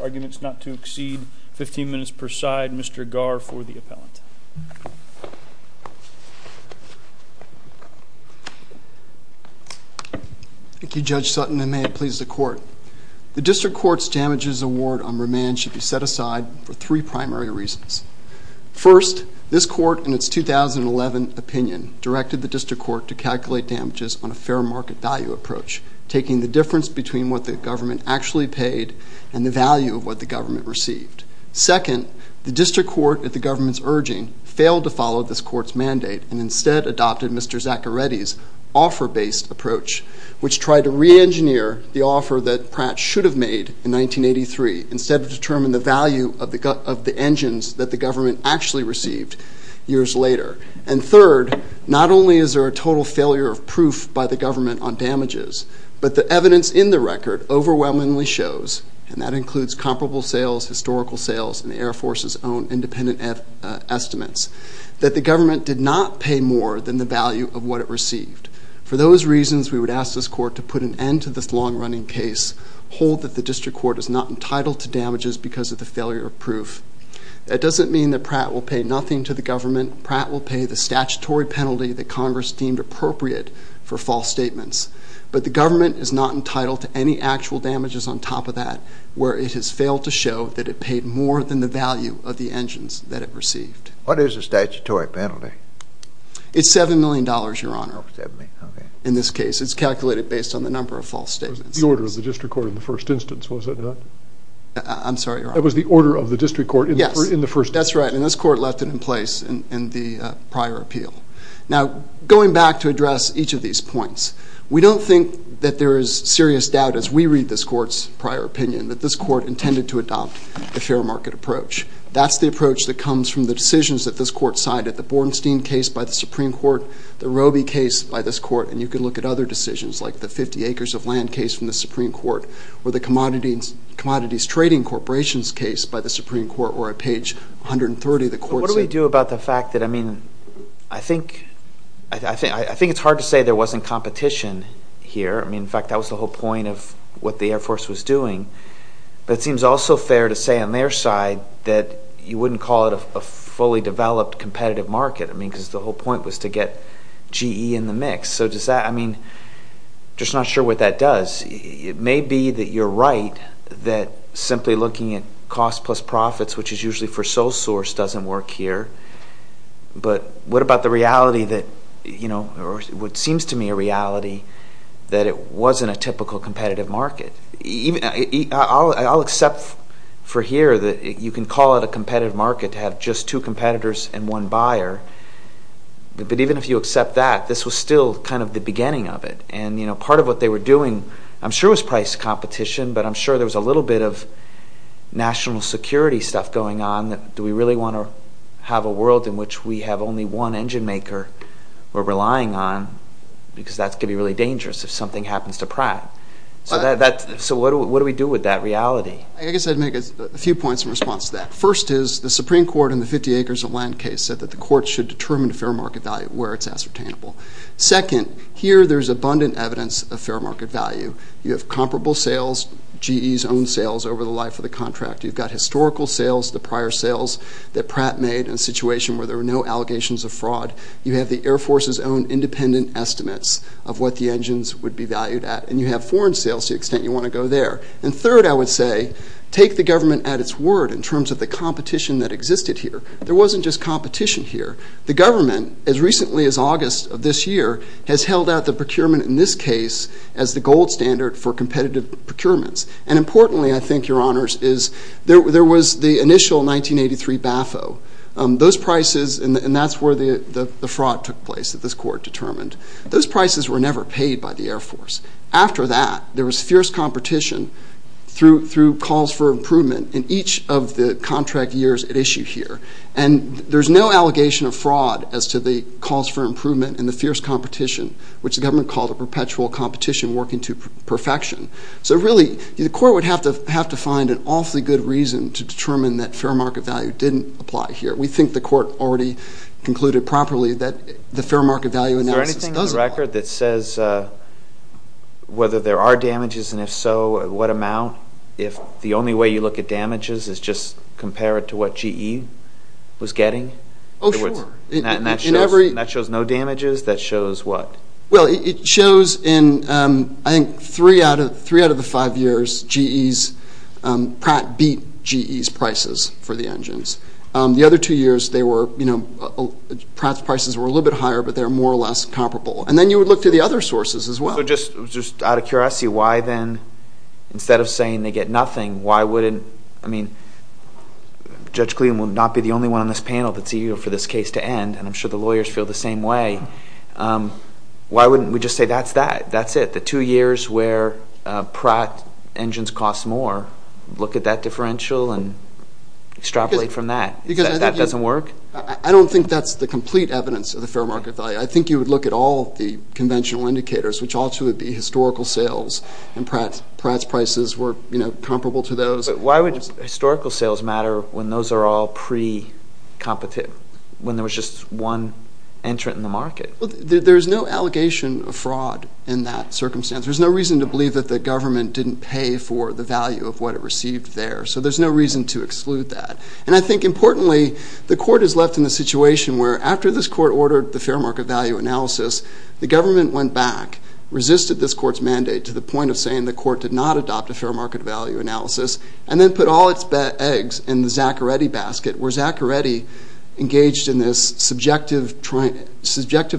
Arguments not to exceed 15 minutes per side. Mr. Garr for the appellant. Thank you Judge Sutton and may it please the Court. The District Court's Damages Award on Remand should be set aside for three primary reasons. First, this Court, in its 2011 opinion, directed the District Court to calculate damages on a fair market value approach, taking the difference between what the government actually paid and the value of what the government received. Second, the District Court, at the government's urging, failed to follow this Court's mandate and instead adopted Mr. Zaccheretti's offer-based approach, which tried to re-engineer the offer that Pratt should have made in 1983, instead of determine the value of the engines that the government actually received years later. And third, not only is there a total failure of proof by the government on damages, but the evidence in the record overwhelmingly shows, and that includes comparable sales, historical sales, and the Air Force's own independent estimates, that the government did not pay more than the value of what it received. For those reasons, we would ask this Court to put an end to this long-running case, hold that the District Court is not entitled to damages because of the failure of proof. That doesn't mean that Pratt will pay nothing to the government. Pratt will pay the statutory penalty that Congress deemed appropriate for false statements. But the government is not entitled to any actual damages on top of that, where it has failed to show that it paid more than the value of the engines that it received. What is the statutory penalty? It's $7 million, Your Honor. Oh, $7 million, okay. In this case, it's calculated based on the number of false statements. It was the order of the District Court in the first instance, was it not? I'm sorry, Your Honor. It was the order of the District Court in the first instance. Yes, that's right, and this Court left it in place in the prior appeal. Now, going back to address each of these points, we don't think that there is serious doubt, as we read this Court's prior opinion, that this Court intended to adopt the fair market approach. That's the approach that comes from the decisions that this Court sided, the Bornstein case by the Supreme Court, the Roby case by this Court, and you can look at other decisions like the 50 acres of land case from the Supreme Court, or the commodities trading corporations case by the Supreme Court, or at page 130, the Court's... What do we do about the fact that, I mean, I think it's hard to say there wasn't competition here. I mean, in fact, that was the whole point of what the Air Force was doing. But it seems also fair to say on their side that you wouldn't call it a fully developed competitive market, I mean, because the whole point was to get GE in the mix. So does that, I mean, I'm just not sure what that does. It may be that you're right that simply looking at cost plus profits, which is usually for sole source, doesn't work here. But what about the reality that, you know, or what seems to me a reality, that it wasn't a typical competitive market? I'll accept for here that you can call it a competitive market to have just two competitors and one buyer, but even if you accept that, this was still kind of the beginning of it. And, you know, part of what they were doing, I'm sure was price competition, but I'm sure there was a little bit of national security stuff going on, that do we really want to have a world in which we have only one engine maker we're relying on, because that's going to be really dangerous if something happens to Pratt. So what do we do with that reality? I guess I'd make a few points in response to that. First is the Supreme Court in the second, here there's abundant evidence of fair market value. You have comparable sales, GE's own sales over the life of the contract. You've got historical sales, the prior sales that Pratt made in a situation where there were no allegations of fraud. You have the Air Force's own independent estimates of what the engines would be valued at, and you have foreign sales to the extent you want to go there. And third, I would say, take the government at its word in terms of the competition that existed here. There wasn't just competition here. The government, as recently as August of this year, has held out the procurement in this case as the gold standard for competitive procurements. And importantly, I think, Your Honors, is there was the initial 1983 BAFO. Those prices, and that's where the fraud took place that this Court determined. Those prices were never paid by the Air Force. After that, there was fierce competition through calls for improvement in each of the contract years at issue here. And there's no allegation of fraud as to the calls for improvement and the fierce competition, which the government called a perpetual competition working to perfection. So really, the Court would have to find an awfully good reason to determine that fair market value didn't apply here. We think the Court already concluded properly that the fair market value analysis doesn't apply. Is there anything in the record that says whether there are damages, and if so, what amount, if the only way you look at damages is just compare it to what GE was getting? Oh, sure. And that shows no damages? That shows what? Well, it shows in, I think, three out of the five years, GE's, Pratt beat GE's prices for the engines. The other two years, they were, you know, Pratt's prices were a little bit higher, but they were more or less comparable. And then you would look through the other sources as well. So just out of curiosity, why then, instead of saying they get nothing, why wouldn't, I mean, Judge Gleeson will not be the only one on this panel that's eager for this case to end, and I'm sure the lawyers feel the same way. Why wouldn't we just say that's that? That's it. The two years where Pratt engines cost more, look at that differential and extrapolate from that. That doesn't work? I don't think that's the complete evidence of the fair market value. I think you would look at all the conventional indicators, which also would be historical sales, and Pratt's prices were, you know, comparable to those. But why would historical sales matter when those are all pre-competitive, when there was just one entrant in the market? Well, there's no allegation of fraud in that circumstance. There's no reason to believe that the government didn't pay for the value of what it received there. So there's no reason to exclude that. And I think, importantly, the Court is left in the situation where, after this Court ordered the fair market value analysis, the government went back, resisted this Court's mandate to the point of saying the Court did not adopt a fair market value analysis, and then put all its eggs in the Zaccaretti basket, where Zaccaretti engaged in this subjective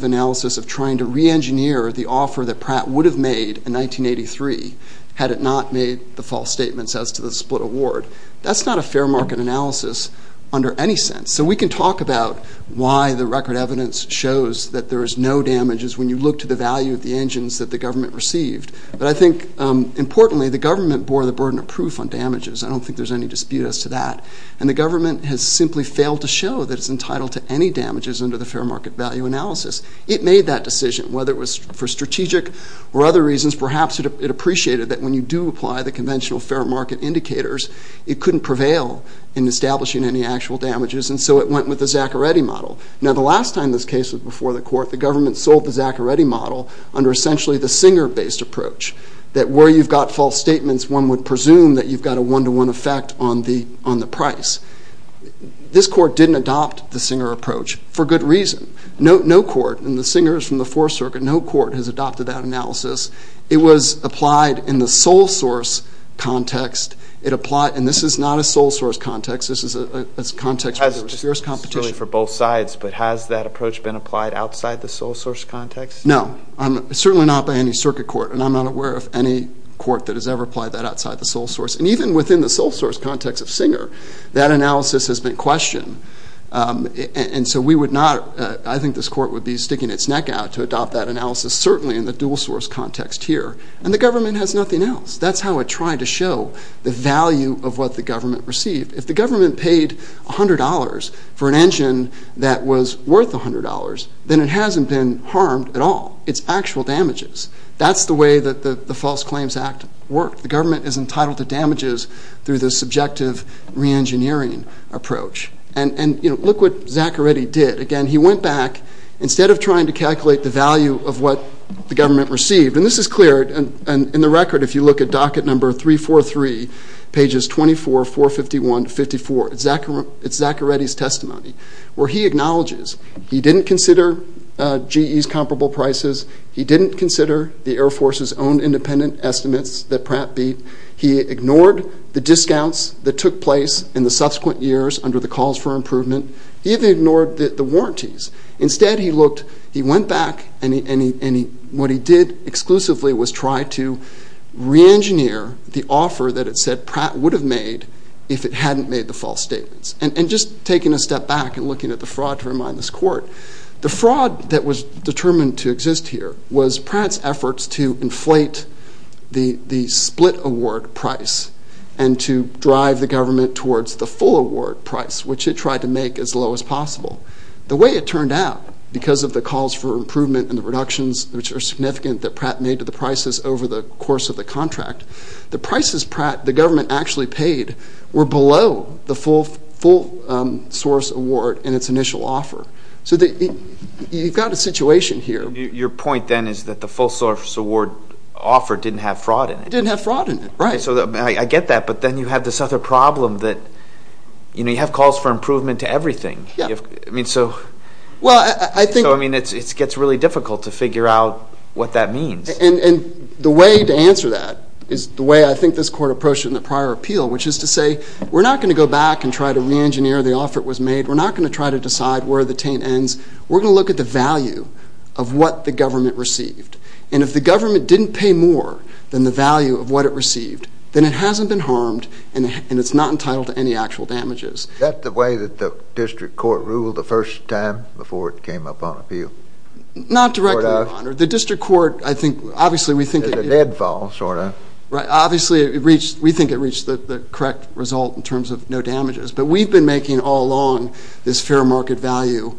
analysis of trying to re-engineer the offer that Pratt would have made in 1983 had it not made the false statements as to the split award. That's not a fair market analysis under any sense. So we can talk about why the record evidence shows that there is no damages when you look to the value of the engines that the government received. But I think, importantly, the government bore the burden of proof on damages. I don't think there's any dispute as to that. And the government has simply failed to show that it's entitled to any damages under the fair market value analysis. It made that decision, whether it was for strategic or other reasons. Perhaps it appreciated that when you do apply the conventional fair market indicators, it couldn't prevail in establishing any actual damages, and so it went with the Zaccaretti model. Now, the last time this case was before the Court, the government sold the Zaccaretti model under essentially the Singer-based approach, that where you've got false statements, one would presume that you've got a one-to-one effect on the price. This Court didn't adopt the Singer approach for good reason. No court, and the Singers from the Fourth Circuit, no court has adopted that analysis. It was applied in the sole source context. It applied, and this is not a sole source context. This is a context of fierce competition. This is really for both sides, but has that approach been applied outside the sole source context? No. Certainly not by any circuit court, and I'm not aware of any court that has ever applied that outside the sole source. And even within the sole source context of Singer, that analysis has been questioned. And so we would not, I think this Court would be sticking its neck out to adopt that analysis, certainly in the dual source context here. And the government has nothing else. That's how it tried to show the value of what the government received. If the government paid $100 for an engine that was worth $100, then it hasn't been harmed at all. It's actual damages. That's the way that the False Claims Act worked. The government is entitled to damages through the subjective re-engineering approach. And, you know, look what Zaccaretti did. Again, he went back, instead of trying to calculate the value of what the government received, and this is clear in the record if you look at docket number 343, pages 24, 451 to 54, it's Zaccaretti's testimony, where he acknowledges he didn't consider GE's comparable prices. He didn't consider the Air Force's own independent estimates that Pratt beat. He ignored the discounts that took place in the subsequent years under the calls for improvement. He even ignored the warranties. Instead, he went back and what he did exclusively was try to re-engineer the offer that it said Pratt would have made if it hadn't made the false statements. And just taking a step back and looking at the fraud to remind this court, the fraud that was determined to exist here was Pratt's efforts to inflate the split award price and to drive the government towards the full award price, which it tried to make as low as possible. The way it turned out, because of the calls for improvement and the reductions which are significant that Pratt made to the prices over the course of the contract, the prices Pratt, the government actually paid, were below the full source award in its initial offer. So you've got a situation here. Your point then is that the full source award offer didn't have fraud in it. It didn't have fraud in it, right. I get that, but then you have this other problem that you have calls for improvement to everything. So it gets really difficult to figure out what that means. And the way to answer that is the way I think this court approached it in the prior appeal, which is to say we're not going to go back and try to re-engineer the offer it was made. We're not going to try to decide where the taint ends. We're going to look at the value of what the government received. And if the government didn't pay more than the value of what it received, then it hasn't been harmed and it's not entitled to any actual damages. Is that the way that the district court ruled the first time before it came up on appeal? Not directly, Your Honor. The district court, I think, obviously, we think... It's a deadfall, sort of. Right. Obviously, we think it reached the correct result in terms of no damages. But we've been making all along this fair market value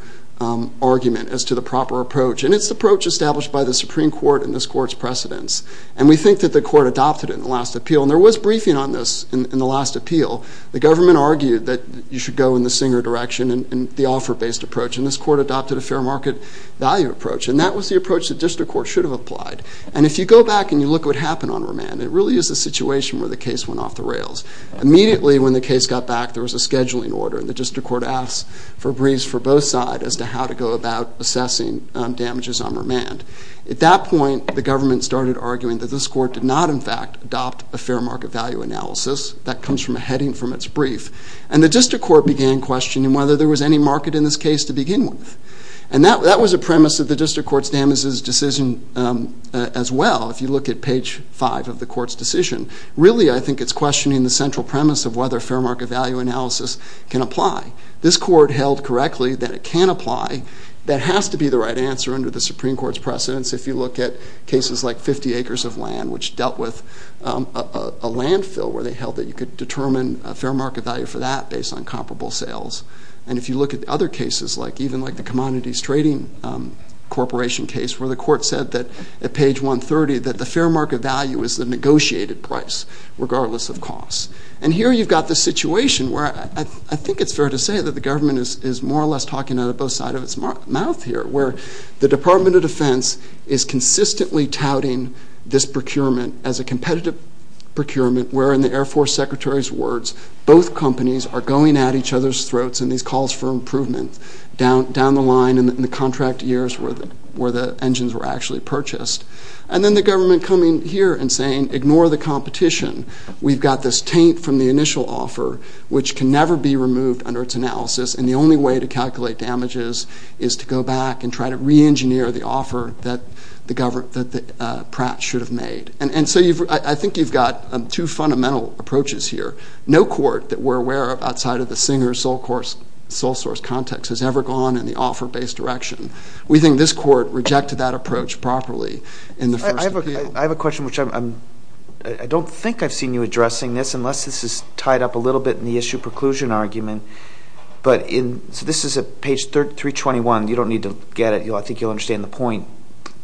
argument as to the proper approach. And it's the approach established by the Supreme Court in this court's precedence. And we think that the court adopted it in the last appeal. And there was briefing on this in the last appeal. The government argued that you should go in the Singer direction and the offer-based approach. And this court adopted a fair market value approach. And that was the approach the district court should have applied. And if you go back and you look at what happened on remand, it really is a situation where the case went off the rails. Immediately when the case got back, there was a scheduling order. The district court asked for briefs for both sides as to how to go about assessing damages on remand. At that point, the government started arguing that this court did not, in fact, adopt a fair market value analysis. That comes from a heading from its brief. And the district court began questioning whether there was any market in this case to begin with. And that was a premise of the district court's damages decision as well. If you look at page 5 of the court's decision, really, I think, it's questioning the central premise of whether fair market value analysis can apply. This court held correctly that it can apply. That has to be the right answer under the Supreme Court's precedence. If you look at cases like 50 acres of land, which dealt with a landfill, where they held that you could determine a fair market value for that based on comparable sales. And if you look at other cases, even like the commodities trading corporation case, where the court said that, at page 130, that the fair market value is the negotiated price, regardless of cost. And here you've got the situation where I think it's fair to say that the government is more or less talking out of both sides of its mouth here, where the Department of Defense is consistently touting this procurement as a competitive procurement, where, in the Air Force Secretary's words, both companies are going at each other's throats in these calls for improvement down the line in the contract years where the engines were actually purchased. And then the government coming here and saying, ignore the competition. We've got this taint from the initial offer, which can never be removed under its analysis, and the only way to calculate damages is to go back and try to re-engineer the offer that Pratt should have made. And so I think you've got two fundamental approaches here. No court that we're aware of outside of the Singer sole-source context has ever gone in the offer-based direction. We think this court rejected that approach properly in the first appeal. I have a question, which I don't think I've seen you addressing this, unless this is tied up a little bit in the issue-preclusion argument. But this is at page 321. You don't need to get it. I think you'll understand the point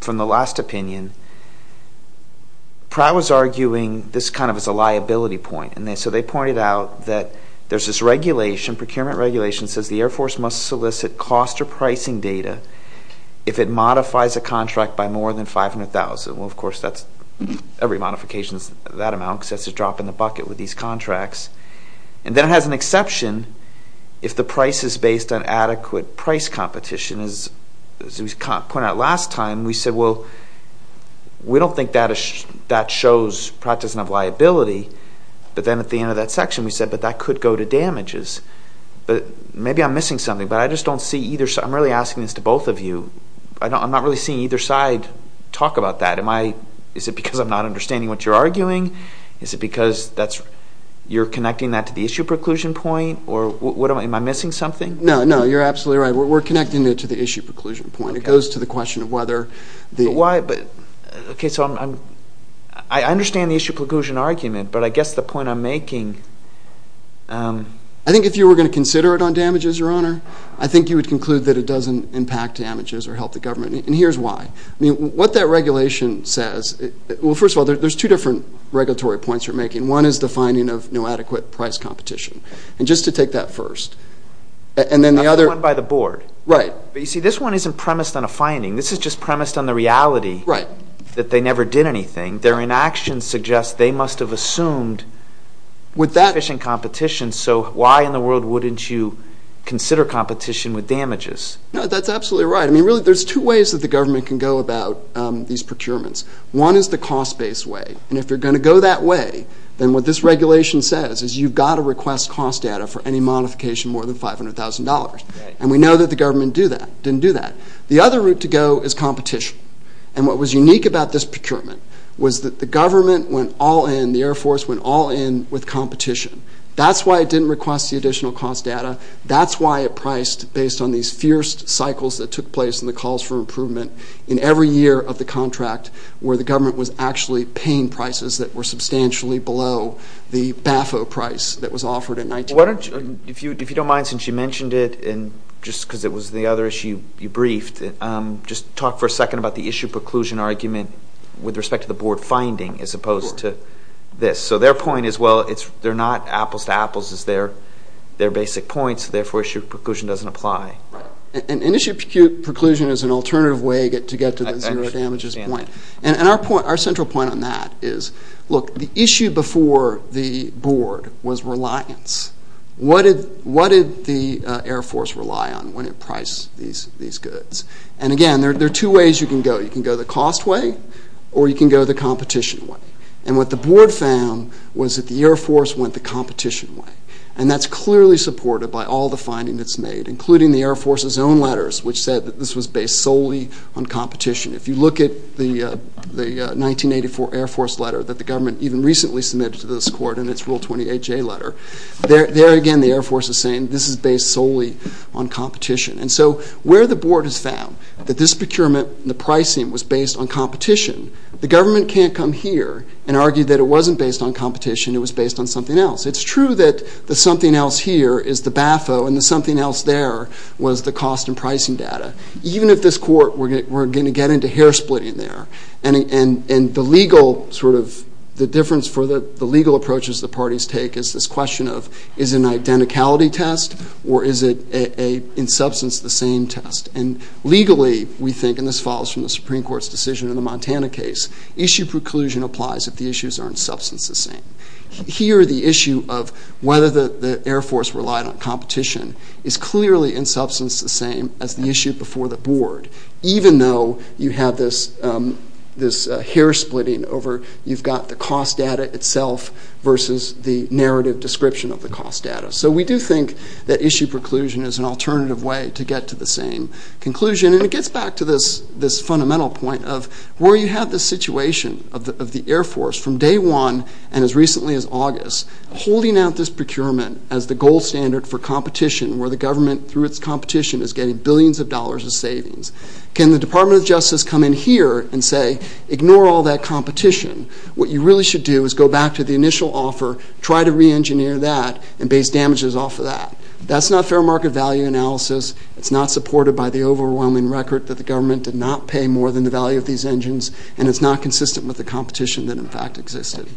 from the last opinion. Pratt was arguing this kind of as a liability point, and so they pointed out that there's this regulation, procurement regulation, says the Air Force must solicit cost or pricing data if it modifies a contract by more than $500,000. Well, of course, every modification is that amount because that's a drop in the bucket with these contracts. And then it has an exception if the price is based on adequate price competition. As we pointed out last time, we said, well, we don't think that shows Pratt doesn't have liability. But then at the end of that section we said, but that could go to damages. Maybe I'm missing something, but I just don't see either side. I'm really asking this to both of you. I'm not really seeing either side talk about that. Is it because I'm not understanding what you're arguing? Is it because you're connecting that to the issue-preclusion point? Am I missing something? No, no, you're absolutely right. We're connecting it to the issue-preclusion point. It goes to the question of whether the ---- But why? Okay, so I understand the issue-preclusion argument, but I guess the point I'm making ---- I think if you were going to consider it on damages, Your Honor, I think you would conclude that it doesn't impact damages or help the government. And here's why. I mean, what that regulation says ---- Well, first of all, there's two different regulatory points you're making. One is the finding of no adequate price competition. And just to take that first. And then the other ---- That's the one by the Board. Right. But, you see, this one isn't premised on a finding. This is just premised on the reality that they never did anything. Their inaction suggests they must have assumed sufficient competition, so why in the world wouldn't you consider competition with damages? No, that's absolutely right. I mean, really, there's two ways that the government can go about these procurements. One is the cost-based way. And if you're going to go that way, then what this regulation says is you've got to request cost data for any modification more than $500,000. And we know that the government didn't do that. The other route to go is competition. And what was unique about this procurement was that the government went all in, the Air Force went all in with competition. That's why it didn't request the additional cost data. That's why it priced based on these fierce cycles that took place and the calls for improvement in every year of the contract where the government was actually paying prices that were substantially below the BAFO price that was offered in 19---- Why don't you, if you don't mind, since you mentioned it, and just because it was the other issue you briefed, just talk for a second about the issue preclusion argument with respect to the Board finding as opposed to this. So their point is, well, they're not apples to apples. It's their basic point, so therefore issue preclusion doesn't apply. And issue preclusion is an alternative way to get to the zero damages point. And our central point on that is, look, the issue before the Board was reliance. What did the Air Force rely on when it priced these goods? And again, there are two ways you can go. You can go the cost way or you can go the competition way. And what the Board found was that the Air Force went the competition way. And that's clearly supported by all the finding that's made, including the Air Force's own letters which said that this was based solely on competition. If you look at the 1984 Air Force letter that the government even recently submitted to this court in its Rule 28J letter, there again the Air Force is saying this is based solely on competition. And so where the Board has found that this procurement, the pricing was based on competition, the government can't come here and argue that it wasn't based on competition, it was based on something else. It's true that the something else here is the BAFO and the something else there was the cost and pricing data, even if this court were going to get into hair splitting there. And the legal sort of, the difference for the legal approaches the parties take is this question of is an identicality test or is it in substance the same test. And legally we think, and this follows from the Supreme Court's decision in the Montana case, issue preclusion applies if the issues are in substance the same. Here the issue of whether the Air Force relied on competition is clearly in substance the same as the issue before the Board, even though you have this hair splitting over, you've got the cost data itself versus the narrative description of the cost data. So we do think that issue preclusion is an alternative way to get to the same conclusion. And it gets back to this fundamental point of where you have this situation of the Air Force from day one and as recently as August, holding out this procurement as the gold standard for competition where the government through its competition is getting billions of dollars of savings. Can the Department of Justice come in here and say ignore all that competition. What you really should do is go back to the initial offer, try to re-engineer that and base damages off of that. That's not fair market value analysis. It's not supported by the overwhelming record that the government did not pay more than the value of these engines and it's not consistent with the competition that in fact existed.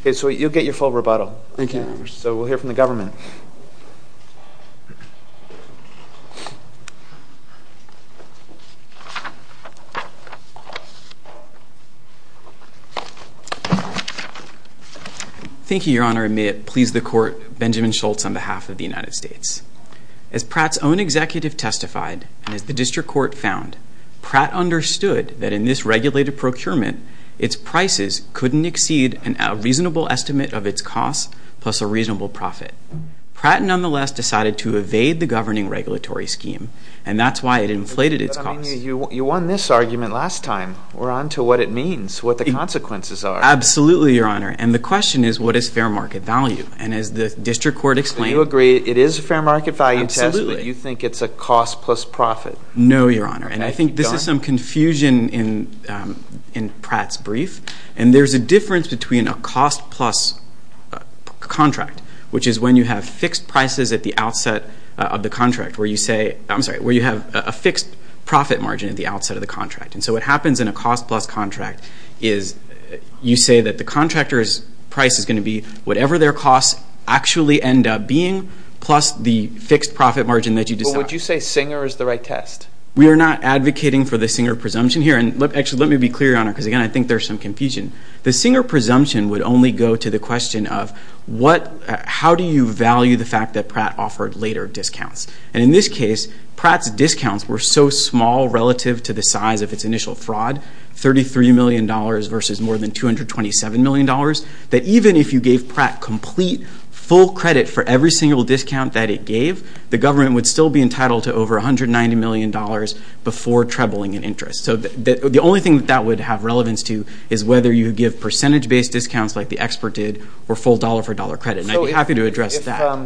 Okay, so you'll get your full rebuttal. Thank you, Your Honor. So we'll hear from the government. Thank you, Your Honor, and may it please the Court, Benjamin Schultz on behalf of the United States. As Pratt's own executive testified and as the District Court found, Pratt understood that in this regulated procurement its prices couldn't exceed a reasonable estimate of its costs plus a reasonable profit. Pratt, nonetheless, decided to evade the governing regulatory scheme and that's why it inflated its costs. You won this argument last time. We're on to what it means, what the consequences are. Absolutely, Your Honor, and the question is what is fair market value? And as the District Court explained... Do you agree it is a fair market value test? Absolutely. You think it's a cost plus profit? No, Your Honor. And I think this is some confusion in Pratt's brief, and there's a difference between a cost plus contract, which is when you have fixed prices at the outset of the contract, where you have a fixed profit margin at the outset of the contract. And so what happens in a cost plus contract is you say that the contractor's price is going to be whatever their costs actually end up being plus the fixed profit margin that you decide. But would you say Singer is the right test? We are not advocating for the Singer presumption here. Actually, let me be clear, Your Honor, because, again, I think there's some confusion. The Singer presumption would only go to the question of how do you value the fact that Pratt offered later discounts? And in this case, Pratt's discounts were so small relative to the size of its initial fraud, $33 million versus more than $227 million, that even if you gave Pratt complete, full credit for every single discount that it gave, the government would still be entitled to over $190 million before trebling in interest. So the only thing that that would have relevance to is whether you give percentage-based discounts like the expert did or full dollar-for-dollar credit, and I'd be happy to address that. So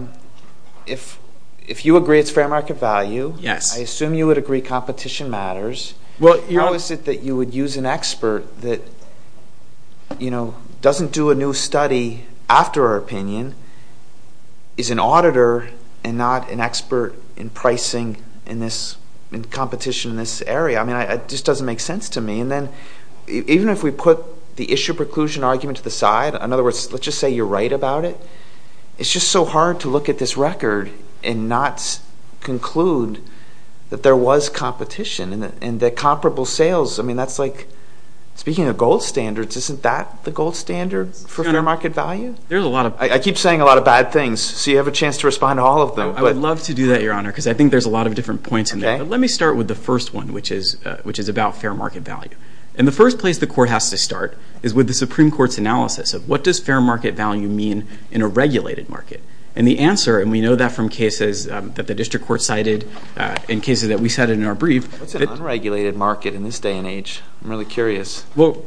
if you agree it's fair market value, I assume you would agree competition matters. How is it that you would use an expert that doesn't do a new study after our opinion, is an auditor and not an expert in pricing and competition in this area? I mean, it just doesn't make sense to me. And then even if we put the issue preclusion argument to the side, in other words, let's just say you're right about it, it's just so hard to look at this record and not conclude that there was competition and that comparable sales, I mean, that's like speaking of gold standards, isn't that the gold standard for fair market value? I keep saying a lot of bad things, so you have a chance to respond to all of them. I would love to do that, Your Honor, because I think there's a lot of different points in there. Okay. But let me start with the first one, which is about fair market value. And the first place the court has to start is with the Supreme Court's analysis of what does fair market value mean in a regulated market? And the answer, and we know that from cases that the district court cited and cases that we cited in our brief. What's an unregulated market in this day and age? I'm really curious. Well,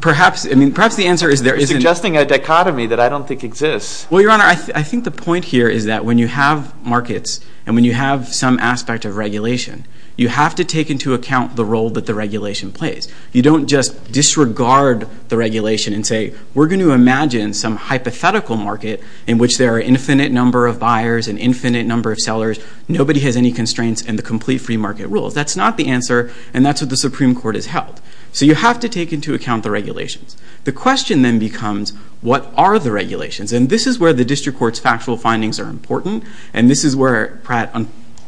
perhaps the answer is there isn't. You're suggesting a dichotomy that I don't think exists. Well, Your Honor, I think the point here is that when you have markets and when you have some aspect of regulation, you have to take into account the role that the regulation plays. You don't just disregard the regulation and say we're going to imagine some hypothetical market in which there are an infinite number of buyers, an infinite number of sellers, nobody has any constraints, and the complete free market rules. That's not the answer, and that's what the Supreme Court has held. So you have to take into account the regulations. The question then becomes, what are the regulations? And this is where the district court's factual findings are important, and this is where Pratt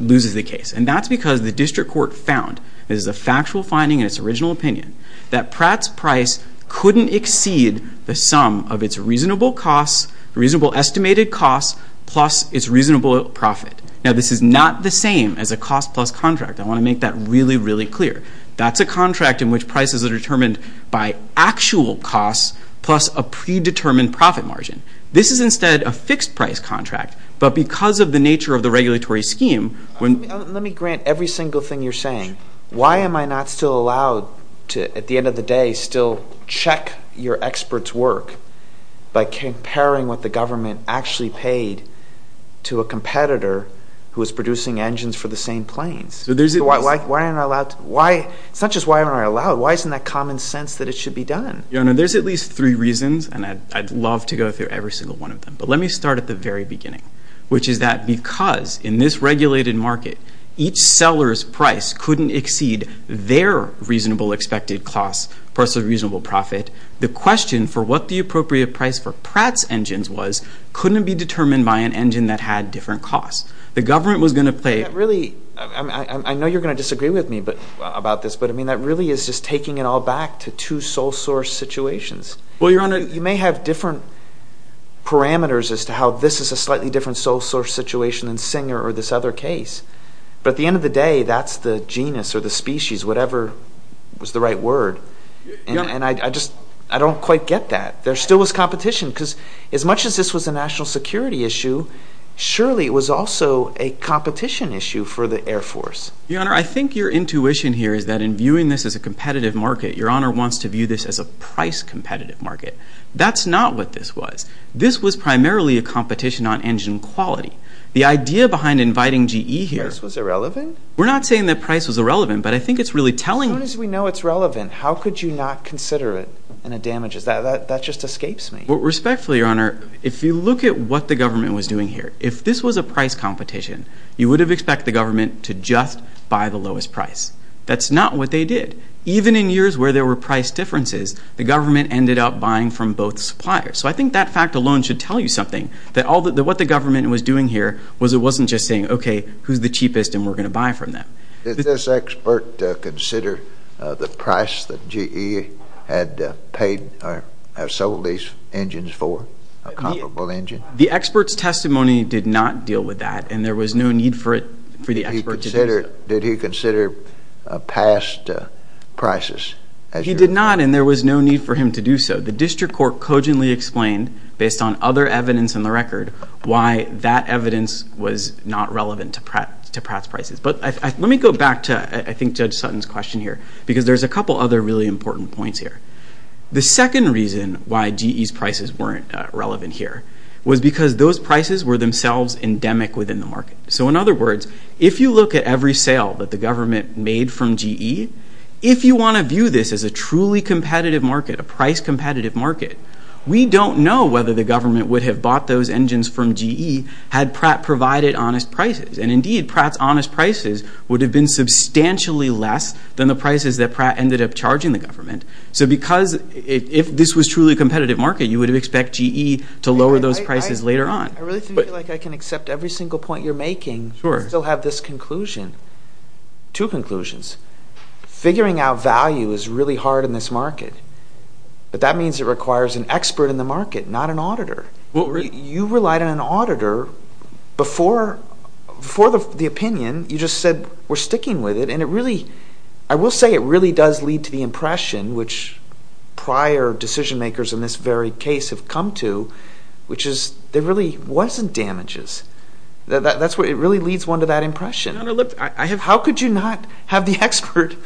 loses the case, and that's because the district court found, this is a factual finding in its original opinion, that Pratt's price couldn't exceed the sum of its reasonable cost, reasonable estimated cost, plus its reasonable profit. Now, this is not the same as a cost plus contract. I want to make that really, really clear. That's a contract in which prices are determined by actual costs plus a predetermined profit margin. This is instead a fixed-price contract, but because of the nature of the regulatory scheme, when— Let me grant every single thing you're saying. Why am I not still allowed to, at the end of the day, still check your expert's work by comparing what the government actually paid to a competitor who is producing engines for the same planes? Why am I not allowed to— It's not just why am I not allowed. Why isn't that common sense that it should be done? There's at least three reasons, and I'd love to go through every single one of them, but let me start at the very beginning, which is that because, in this regulated market, each seller's price couldn't exceed their reasonable expected cost plus a reasonable profit, the question for what the appropriate price for Pratt's engines was couldn't be determined by an engine that had different costs. The government was going to pay— I know you're going to disagree with me about this, but that really is just taking it all back to two sole-source situations. Well, Your Honor— You may have different parameters as to how this is a slightly different sole-source situation than Singer or this other case, but at the end of the day, that's the genus or the species, whatever was the right word, and I just don't quite get that. There still was competition, because as much as this was a national security issue, surely it was also a competition issue for the Air Force. Your Honor, I think your intuition here is that in viewing this as a competitive market, Your Honor wants to view this as a price-competitive market. That's not what this was. This was primarily a competition on engine quality. The idea behind inviting GE here— Price was irrelevant? We're not saying that price was irrelevant, but I think it's really telling— As soon as we know it's relevant, how could you not consider it in a damages— that just escapes me. Respectfully, Your Honor, if you look at what the government was doing here, if this was a price competition, you would have expected the government to just buy the lowest price. That's not what they did. Even in years where there were price differences, the government ended up buying from both suppliers. So I think that fact alone should tell you something, that what the government was doing here was it wasn't just saying, okay, who's the cheapest and we're going to buy from them. Did this expert consider the price that GE had paid or have sold these engines for, a comparable engine? The expert's testimony did not deal with that, and there was no need for the expert to do so. Did he consider past prices? He did not, and there was no need for him to do so. The district court cogently explained, based on other evidence in the record, why that evidence was not relevant to Pratt's prices. But let me go back to, I think, Judge Sutton's question here, because there's a couple other really important points here. The second reason why GE's prices weren't relevant here was because those prices were themselves endemic within the market. So in other words, if you look at every sale that the government made from GE, if you want to view this as a truly competitive market, a price competitive market, we don't know whether the government would have bought those engines from GE had Pratt provided honest prices. And indeed, Pratt's honest prices would have been substantially less than the prices that Pratt ended up charging the government. So because if this was truly a competitive market, you would expect GE to lower those prices later on. I really feel like I can accept every single point you're making and still have this conclusion. Two conclusions. Figuring out value is really hard in this market. But that means it requires an expert in the market, not an auditor. You relied on an auditor before the opinion. You just said, we're sticking with it. I will say it really does lead to the impression, which prior decision-makers in this very case have come to, which is there really wasn't damages. It really leads one to that impression. How could you not have the expert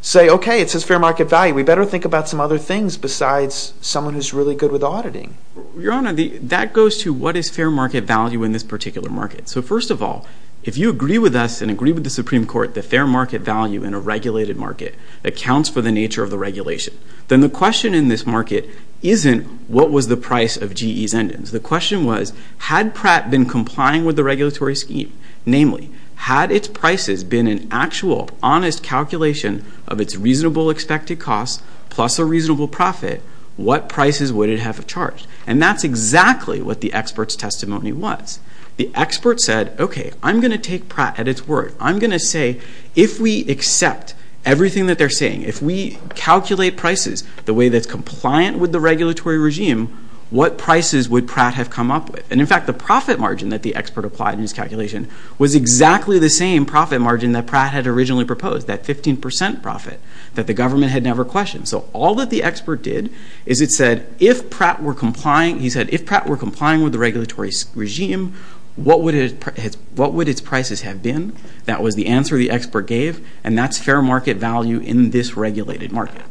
say, okay, it says fair market value. We better think about some other things besides someone who's really good with auditing. Your Honor, that goes to what is fair market value in this particular market. So first of all, if you agree with us and agree with the Supreme Court that fair market value in a regulated market accounts for the nature of the regulation, then the question in this market isn't what was the price of GE's engines. The question was, had Pratt been complying with the regulatory scheme? Namely, had its prices been an actual, honest calculation of its reasonable expected costs plus a reasonable profit, what prices would it have charged? And that's exactly what the expert's testimony was. The expert said, okay, I'm going to take Pratt at its word. I'm going to say, if we accept everything that they're saying, if we calculate prices the way that's compliant with the regulatory regime, what prices would Pratt have come up with? And in fact, the profit margin that the expert applied in his calculation was exactly the same profit margin that Pratt had originally proposed, that 15% profit that the government had never questioned. So all that the expert did is it said, if Pratt were complying with the regulatory regime, what would its prices have been? That was the answer the expert gave, and that's fair market value in this regulated market.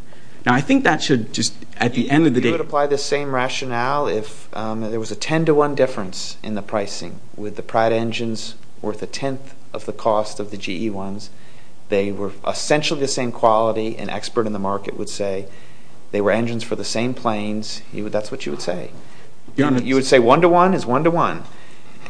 Now, I think that should just, at the end of the day... You would apply the same rationale if there was a 10-to-1 difference in the pricing with the Pratt engines worth a tenth of the cost of the GE ones. They were essentially the same quality. An expert in the market would say they were engines for the same planes. That's what you would say. You would say one-to-one is one-to-one.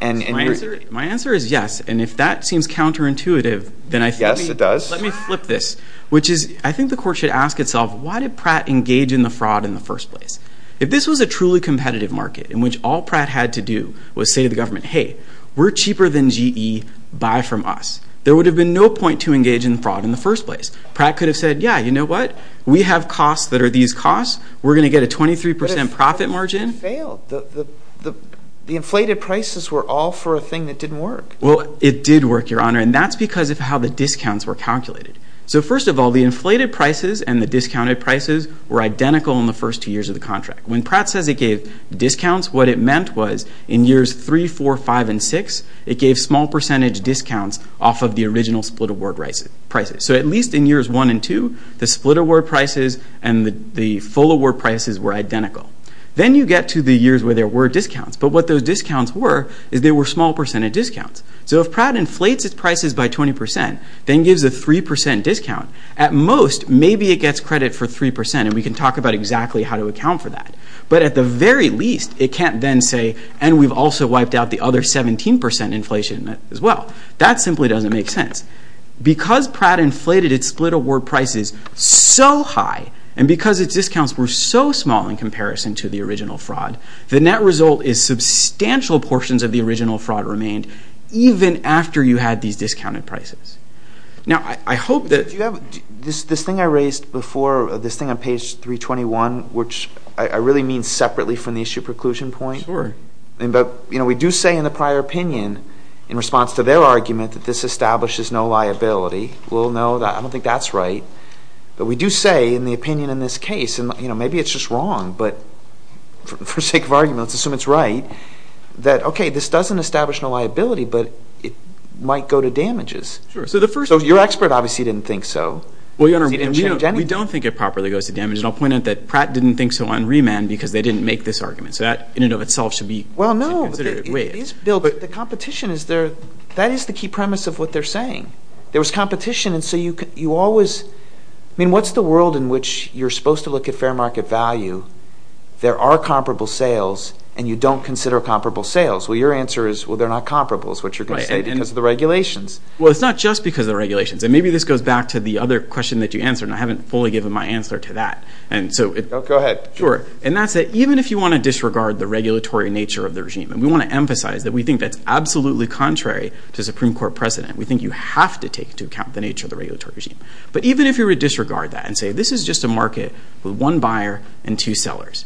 My answer is yes, and if that seems counterintuitive... Yes, it does. Let me flip this, which is, I think the court should ask itself, why did Pratt engage in the fraud in the first place? If this was a truly competitive market in which all Pratt had to do was say to the government, hey, we're cheaper than GE, buy from us, there would have been no point to engage in fraud in the first place. Pratt could have said, yeah, you know what? We have costs that are these costs. We're going to get a 23% profit margin. But it failed. The inflated prices were all for a thing that didn't work. Well, it did work, Your Honor, and that's because of how the discounts were calculated. So first of all, the inflated prices and the discounted prices were identical in the first two years of the contract. When Pratt says it gave discounts, what it meant was in years 3, 4, 5, and 6, it gave small percentage discounts off of the original split award prices. So at least in years 1 and 2, the split award prices and the full award prices were identical. Then you get to the years where there were discounts, but what those discounts were is they were small percentage discounts. So if Pratt inflates its prices by 20%, then gives a 3% discount, at most, maybe it gets credit for 3%, and we can talk about exactly how to account for that. But at the very least, it can't then say, and we've also wiped out the other 17% inflation as well. That simply doesn't make sense. Because Pratt inflated its split award prices so high, and because its discounts were so small in comparison to the original fraud, the net result is substantial portions of the original fraud remained even after you had these discounted prices. Now, I hope that... This thing I raised before, this thing on page 321, which I really mean separately from the issue preclusion point. Sure. But we do say in the prior opinion, in response to their argument, that this establishes no liability. Well, no, I don't think that's right. But we do say in the opinion in this case, and maybe it's just wrong, but for sake of argument, let's assume it's right, that, okay, this doesn't establish no liability, but it might go to damages. So your expert obviously didn't think so. Well, you know, we don't think it properly goes to damage, and I'll point out that Pratt didn't think so on remand because they didn't make this argument. So that in and of itself should be considered. But the competition is there. That is the key premise of what they're saying. There was competition, and so you always... I mean, what's the world in which you're supposed to look at fair market value, there are comparable sales, and you don't consider comparable sales? Well, your answer is, well, they're not comparable is what you're going to say because of the regulations. Well, it's not just because of the regulations. And maybe this goes back to the other question that you answered, and I haven't fully given my answer to that. Go ahead. Sure. And that's that even if you want to disregard the regulatory nature of the regime. And we want to emphasize that we think that's absolutely contrary to Supreme Court precedent. We think you have to take into account the nature of the regulatory regime. But even if you were to disregard that and say, this is just a market with one buyer and two sellers,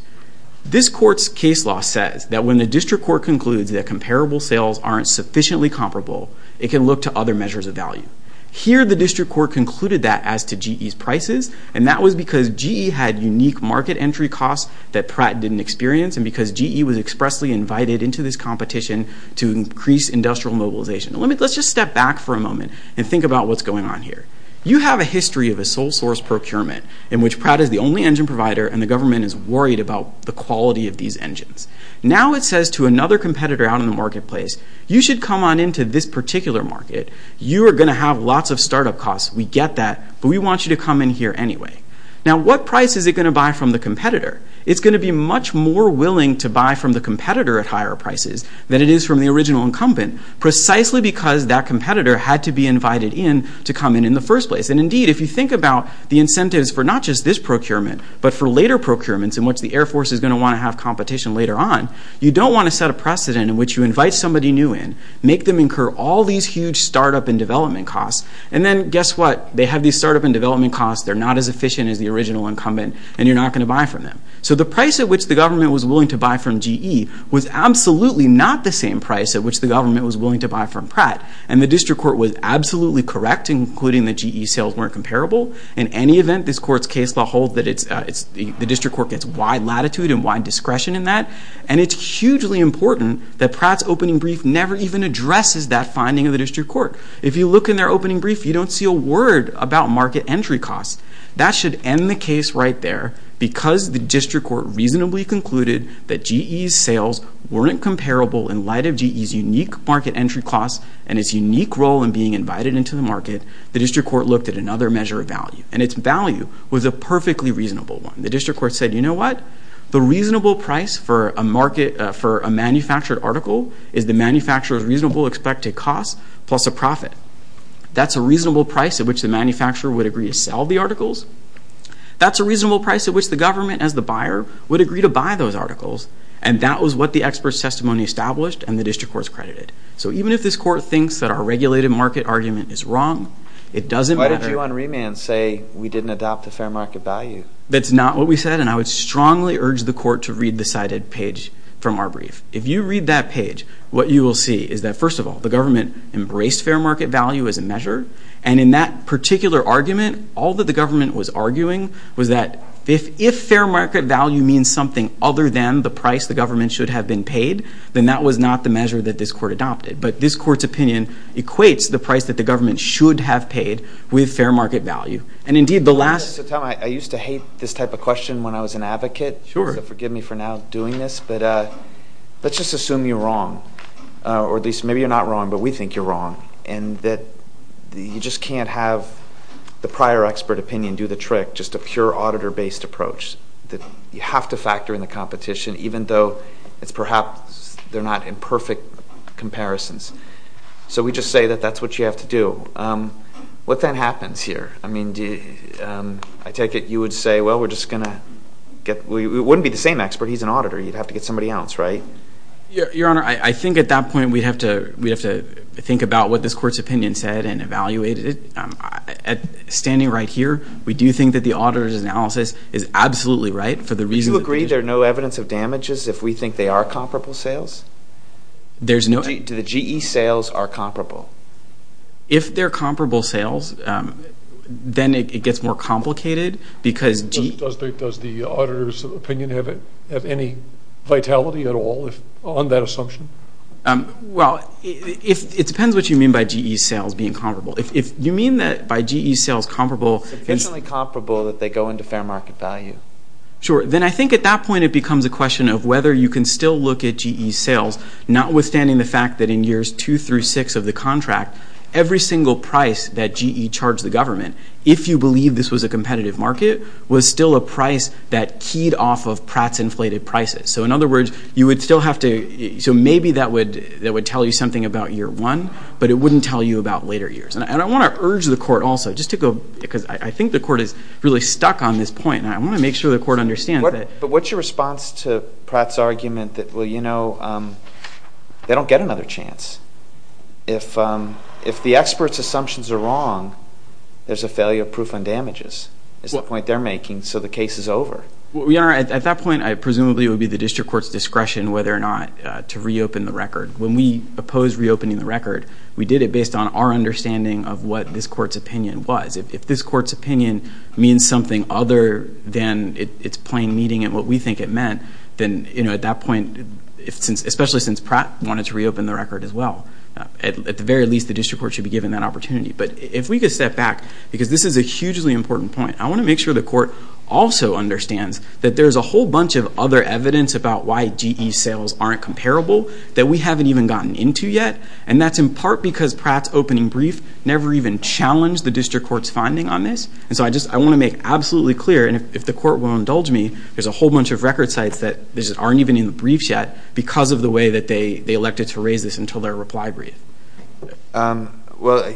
this court's case law says that when the district court concludes that comparable sales aren't sufficiently comparable, it can look to other measures of value. Here the district court concluded that as to GE's prices, and that was because GE had unique market entry costs that Pratt didn't experience, and because GE was expressly invited into this competition to increase industrial mobilization. Let's just step back for a moment and think about what's going on here. You have a history of a sole source procurement in which Pratt is the only engine provider and the government is worried about the quality of these engines. Now it says to another competitor out in the marketplace, you should come on into this particular market. You are going to have lots of startup costs. We get that. But we want you to come in here anyway. Now what price is it going to buy from the competitor? It's going to be much more willing to buy from the competitor at higher prices than it is from the original incumbent, precisely because that competitor had to be invited in to come in in the first place. And indeed, if you think about the incentives for not just this procurement, but for later procurements in which the Air Force is going to want to have competition later on, you don't want to set a precedent in which you invite somebody new in, make them incur all these huge startup and development costs, and then guess what? They have these startup and development costs. They're not as efficient as the original incumbent, and you're not going to buy from them. So the price at which the government was willing to buy from GE was absolutely not the same price at which the government was willing to buy from Pratt. And the district court was absolutely correct, including that GE sales weren't comparable. In any event, this court's case law holds that the district court gets wide latitude and wide discretion in that. And it's hugely important that Pratt's opening brief never even addresses that finding of the district court. If you look in their opening brief, you don't see a word about market entry costs. That should end the case right there. Because the district court reasonably concluded that GE's sales weren't comparable in light of GE's unique market entry costs and its unique role in being invited into the market, the district court looked at another measure of value. And its value was a perfectly reasonable one. The district court said, you know what? The reasonable price for a manufactured article is the manufacturer's reasonable expected cost plus a profit. That's a reasonable price at which the manufacturer would agree to sell the articles. That's a reasonable price at which the government, as the buyer, would agree to buy those articles. And that was what the expert's testimony established and the district court's credited. So even if this court thinks that our regulated market argument is wrong, it doesn't matter. Why did you on remand say we didn't adopt a fair market value? That's not what we said, and I would strongly urge the court to read the cited page from our brief. If you read that page, what you will see is that, first of all, the government embraced fair market value as a measure. And in that particular argument, all that the government was arguing was that if fair market value means something other than the price the government should have been paid, then that was not the measure that this court adopted. But this court's opinion equates the price that the government should have paid with fair market value. And indeed, the last... I used to hate this type of question when I was an advocate. So forgive me for now doing this. But let's just assume you're wrong, or at least maybe you're not wrong, but we think you're wrong, and that you just can't have the prior expert opinion do the trick, just a pure auditor-based approach, that you have to factor in the competition even though it's perhaps they're not in perfect comparisons. So we just say that that's what you have to do. What then happens here? I mean, I take it you would say, well, we're just going to get... It wouldn't be the same expert. He's an auditor. You'd have to get somebody else, right? Your Honor, I think at that point we'd have to think about what this court's opinion said and evaluate it. Standing right here, we do think that the auditor's analysis is absolutely right for the reasons... Do you agree there's no evidence of damages if we think they are comparable sales? There's no... Do the GE sales are comparable? If they're comparable sales, then it gets more complicated because... Does the auditor's opinion have any vitality at all on that assumption? Well, it depends what you mean by GE sales being comparable. If you mean that by GE sales comparable... It's definitely comparable that they go into fair market value. Sure. Then I think at that point it becomes a question of whether you can still look at GE sales notwithstanding the fact that in years two through six of the contract every single price that GE charged the government, if you believe this was a competitive market, was still a price that keyed off of Pratt's inflated prices. So in other words, you would still have to... So maybe that would tell you something about year one, but it wouldn't tell you about later years. And I want to urge the court also, because I think the court is really stuck on this point, and I want to make sure the court understands it. But what's your response to Pratt's argument that, well, you know, they don't get another chance. If the experts' assumptions are wrong, there's a failure of proof on damages. That's the point they're making, so the case is over. Well, Your Honor, at that point, presumably it would be the district court's discretion whether or not to reopen the record. When we opposed reopening the record, we did it based on our understanding of what this court's opinion was. If this court's opinion means something other than its plain meeting and what we think it meant, then, you know, at that point, especially since Pratt wanted to reopen the record as well, at the very least, the district court should be given that opportunity. But if we could step back, because this is a hugely important point, I want to make sure the court also understands that there's a whole bunch of other evidence about why GE sales aren't comparable that we haven't even gotten into yet, and that's in part because Pratt's opening brief never even challenged the district court's finding on this. And so I want to make absolutely clear, and if the court will understand this, that these aren't even in the briefs yet because of the way that they elected to raise this until their reply brief. Well,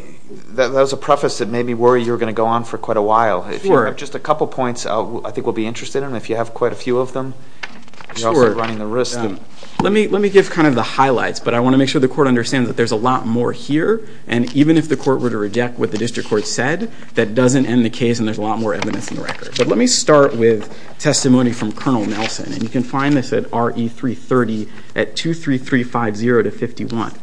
that was a preface that made me worry you were going to go on for quite a while. If you have just a couple points I think we'll be interested in, and if you have quite a few of them, you're also running the risk. Sure. Let me give kind of the highlights, but I want to make sure the court understands that there's a lot more here, and even if the court were to reject what the district court said, that doesn't end the case, and there's a lot more evidence in the record. But let me start with Colonel Nelson, and you can find this at RE-330 at 23350-51.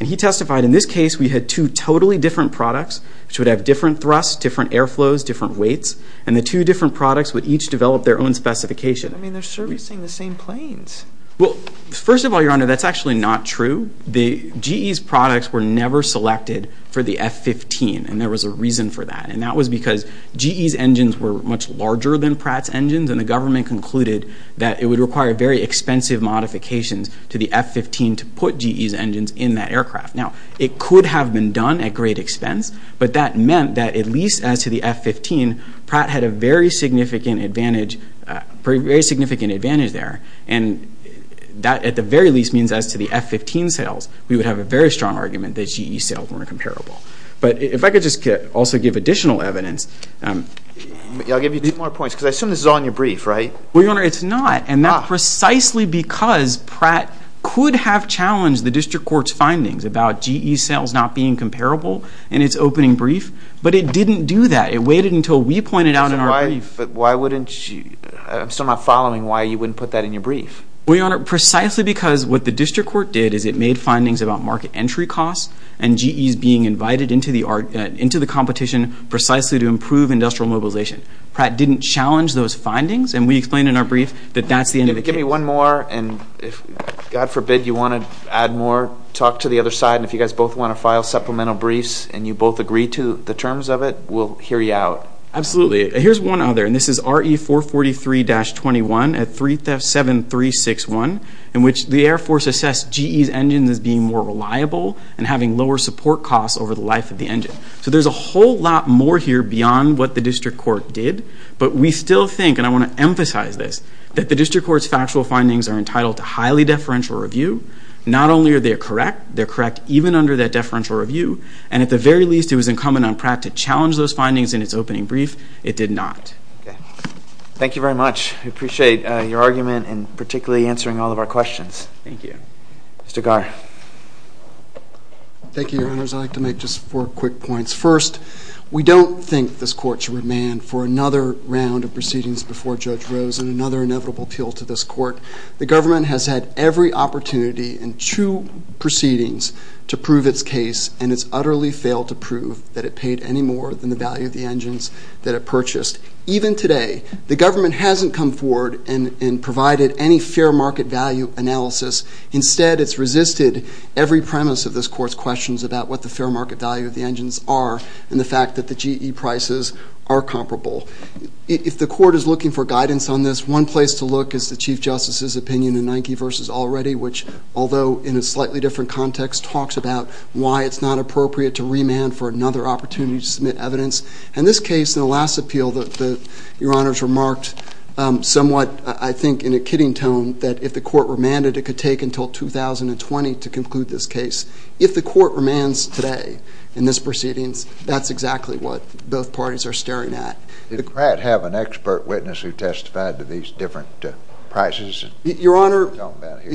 And he testified, in this case, we had two totally different products, which would have different thrusts, different air flows, different weights, and the two different products would each develop their own specification. I mean, they're servicing the same planes. Well, first of all, Your Honor, that's actually not true. GE's products were never selected for the F-15, and there was a reason for that, and that was because GE's engines were much larger than Pratt's engines, and the government concluded that it would require very expensive modifications to the F-15 to put GE's engines in that aircraft. Now, it could have been done at great expense, but that meant that at least as to the F-15, Pratt had a very significant advantage, a very significant advantage there, and that, at the very least, means as to the F-15 sales, we would have a very strong argument that GE's sales weren't comparable. But if I could just also give additional evidence, I'll give you two more points, because I assume this is all in your brief, right? Well, Your Honor, it's not, and that's precisely because Pratt could have challenged the district court's findings about GE's sales not being comparable in its opening brief, but it didn't do that. It waited until we pointed out in our brief. But why wouldn't you I'm still not following why you wouldn't put that in your brief. Well, Your Honor, precisely because what the district court did is it made findings about market entry costs and GE's being invited into the competition precisely to improve industrial mobilization. Pratt didn't challenge those findings, and we explained in our brief that that's the end of the case. Give me one more, and if, God forbid, you want to add more, talk to the other side, and if you guys both want to file supplemental briefs, and you both agree to the terms of it, we'll hear you out. Absolutely. Here's one other, and this is RE443-21 at 37361, in which the Air Force assessed GE's engines as being more reliable and having lower support costs over the life of the engine. So there's a whole lot more here beyond what the district court did, but we still think, and I want to emphasize this, that the district court's factual findings are entitled to highly deferential review. Not only are they correct, they're correct even under that deferential review, and at the very least, it was incumbent on Pratt to challenge those findings in its opening brief. It did not. Okay. Thank you very much. I appreciate your argument and particularly answering all of our questions. Thank you. Mr. Garr. Thank you, Your Honors. I'd like to make just four quick points. First, we don't think this court should remand for another round of proceedings before Judge Rose and another inevitable appeal to this court. The government has had every opportunity in two proceedings to prove its case, and it's utterly failed to prove that it paid any more than the value of the engines that it purchased. Even today, the government hasn't come forward and provided any fair market value analysis. Instead, it's resisted every premise of this court's questions about what the fair market value of the engines are and the fact that the GE prices are comparable. If the court is looking for guidance on this, one place to look is the Chief Justice's opinion in Nike v. Already, which, although in a slightly different context, talks about why it's not appropriate to remand for another opportunity to submit evidence. In this case, in the last appeal, Your Honors remarked somewhat, I think, in a kidding tone that if the court remanded, it could take until 2020 to conclude this case. If the court remands today in this proceedings, that's exactly what both parties are staring at. Did Pratt have an expert witness who testified to these different prices? Your Honor,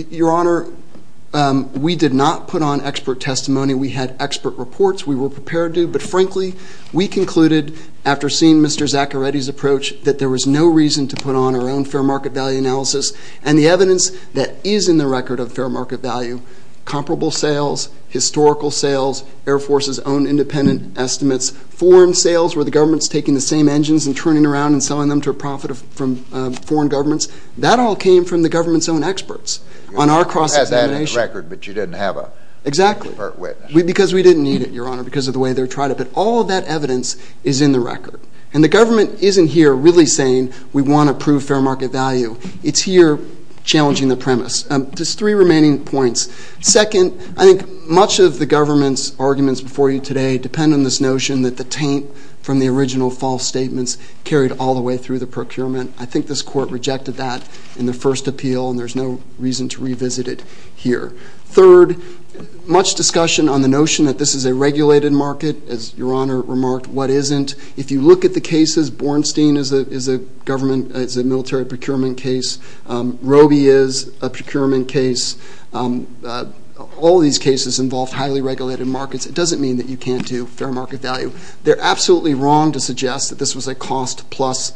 Your Honor, we did not put on expert testimony. We had expert reports we were prepared to, but frankly, we concluded after seeing Mr. Zaccheretti's approach that there was no reason to put on our own fair market value analysis, and the evidence that is in the record of fair market value, comparable sales, historical sales, Air Force's own independent estimates, foreign sales where the government's taking the same engines and turning around and selling them to a profit from foreign governments, that all came from the government's own experts on our cross-examination. You had that in the record, but you didn't have an expert witness. Exactly. Because we didn't need it, Your Honor, because of the way they tried it. But all of that evidence is in the record. And the government isn't here really saying, we want to prove fair market value. It's here challenging the premise. Just three remaining points. Second, I think much of the government's arguments before you today depend on this notion that the taint from the original false statements carried all the way through the procurement. I think this Court rejected that in the first appeal, and there's no reason to revisit it here. Third, much discussion on the notion that this is a regulated market. As Your Honor remarked, what isn't? If you look at the cases, Bornstein is a government, is a military procurement case. Roby is a procurement case. All these cases involved highly regulated markets. It doesn't mean that you can't do fair market value. They're absolutely wrong to suggest that this was a cost plus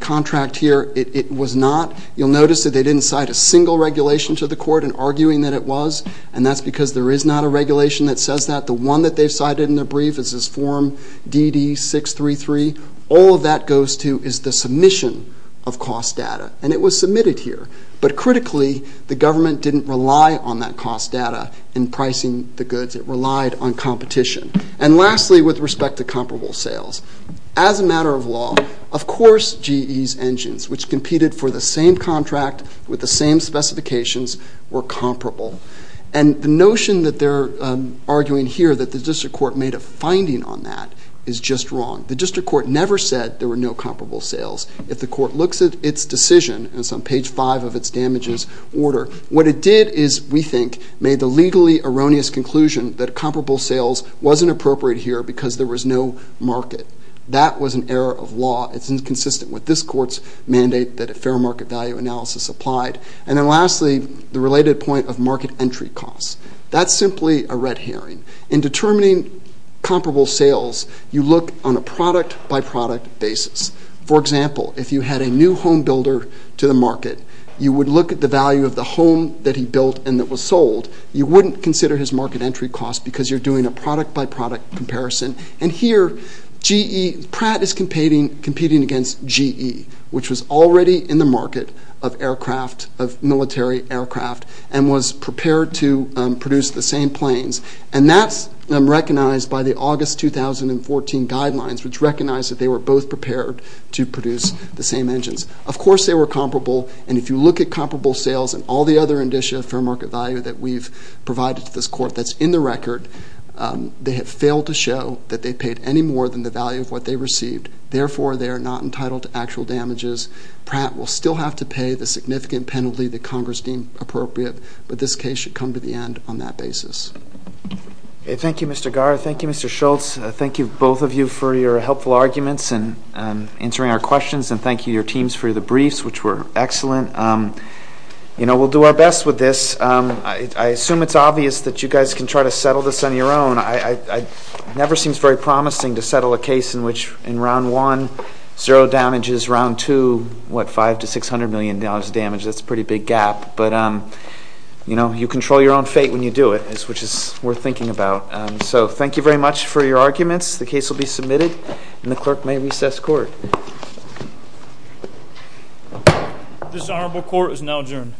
contract here. It was not. You'll notice that they didn't cite a single regulation to the Court in arguing that it was. And that's because there is not a regulation that says that. The one that they've cited in their AB 633, all of that goes to is the submission of cost data. And it was submitted here. But critically, the government didn't rely on that cost data in pricing the goods. It relied on competition. And lastly, with respect to comparable sales, as a matter of law, of course GE's engines, which competed for the same contract with the same specifications, were comparable. And the notion that they're arguing here that the District Court made a finding on that is just wrong. The District Court never said there were no comparable sales. If the Court looks at its decision, and it's on page 5 of its damages order, what it did is, we think, made the legally erroneous conclusion that comparable sales wasn't appropriate here because there was no market. That was an error of law. It's inconsistent with this Court's mandate that a fair market value analysis applied. And then lastly, the related point of market entry costs. That's simply a red herring. In determining comparable sales, you look on a product-by-product basis. For example, if you had a new home builder to the market, you would look at the value of the home that he built and that was sold. You wouldn't consider his market entry costs because you're doing a product-by-product comparison. And here, GE, Pratt is competing against GE, which was already in the market of aircraft, of military aircraft, and was prepared to produce the same planes. And that's recognized by the August 2014 guidelines, which recognize that they were both prepared to produce the same engines. Of course they were comparable, and if you look at comparable sales and all the other fair market value that we've provided to this Court that's in the record, they have failed to show that they paid any more than the value of what they received. Therefore, they are not entitled to actual damages. Pratt will still have to pay the significant penalty that Congress deemed appropriate, but this case should come to the end on that basis. Thank you, Mr. Garr. Thank you, Mr. Schultz. Thank you, both of you, for your helpful arguments and answering our questions. And thank you, your teams, for the briefs, which were excellent. You know, we'll do our best with this. I assume it's obvious that you guys can try to settle this on your own. It never seems very promising to settle a case in which, in round one, zero damages. Round two, what, $500-600 million damage. That's a pretty big gap, but you know, you control your own fate when you do it, which is worth thinking about. So thank you very much for your arguments. The case will be submitted and the Clerk may recess Court. This Honorable Court is now adjourned.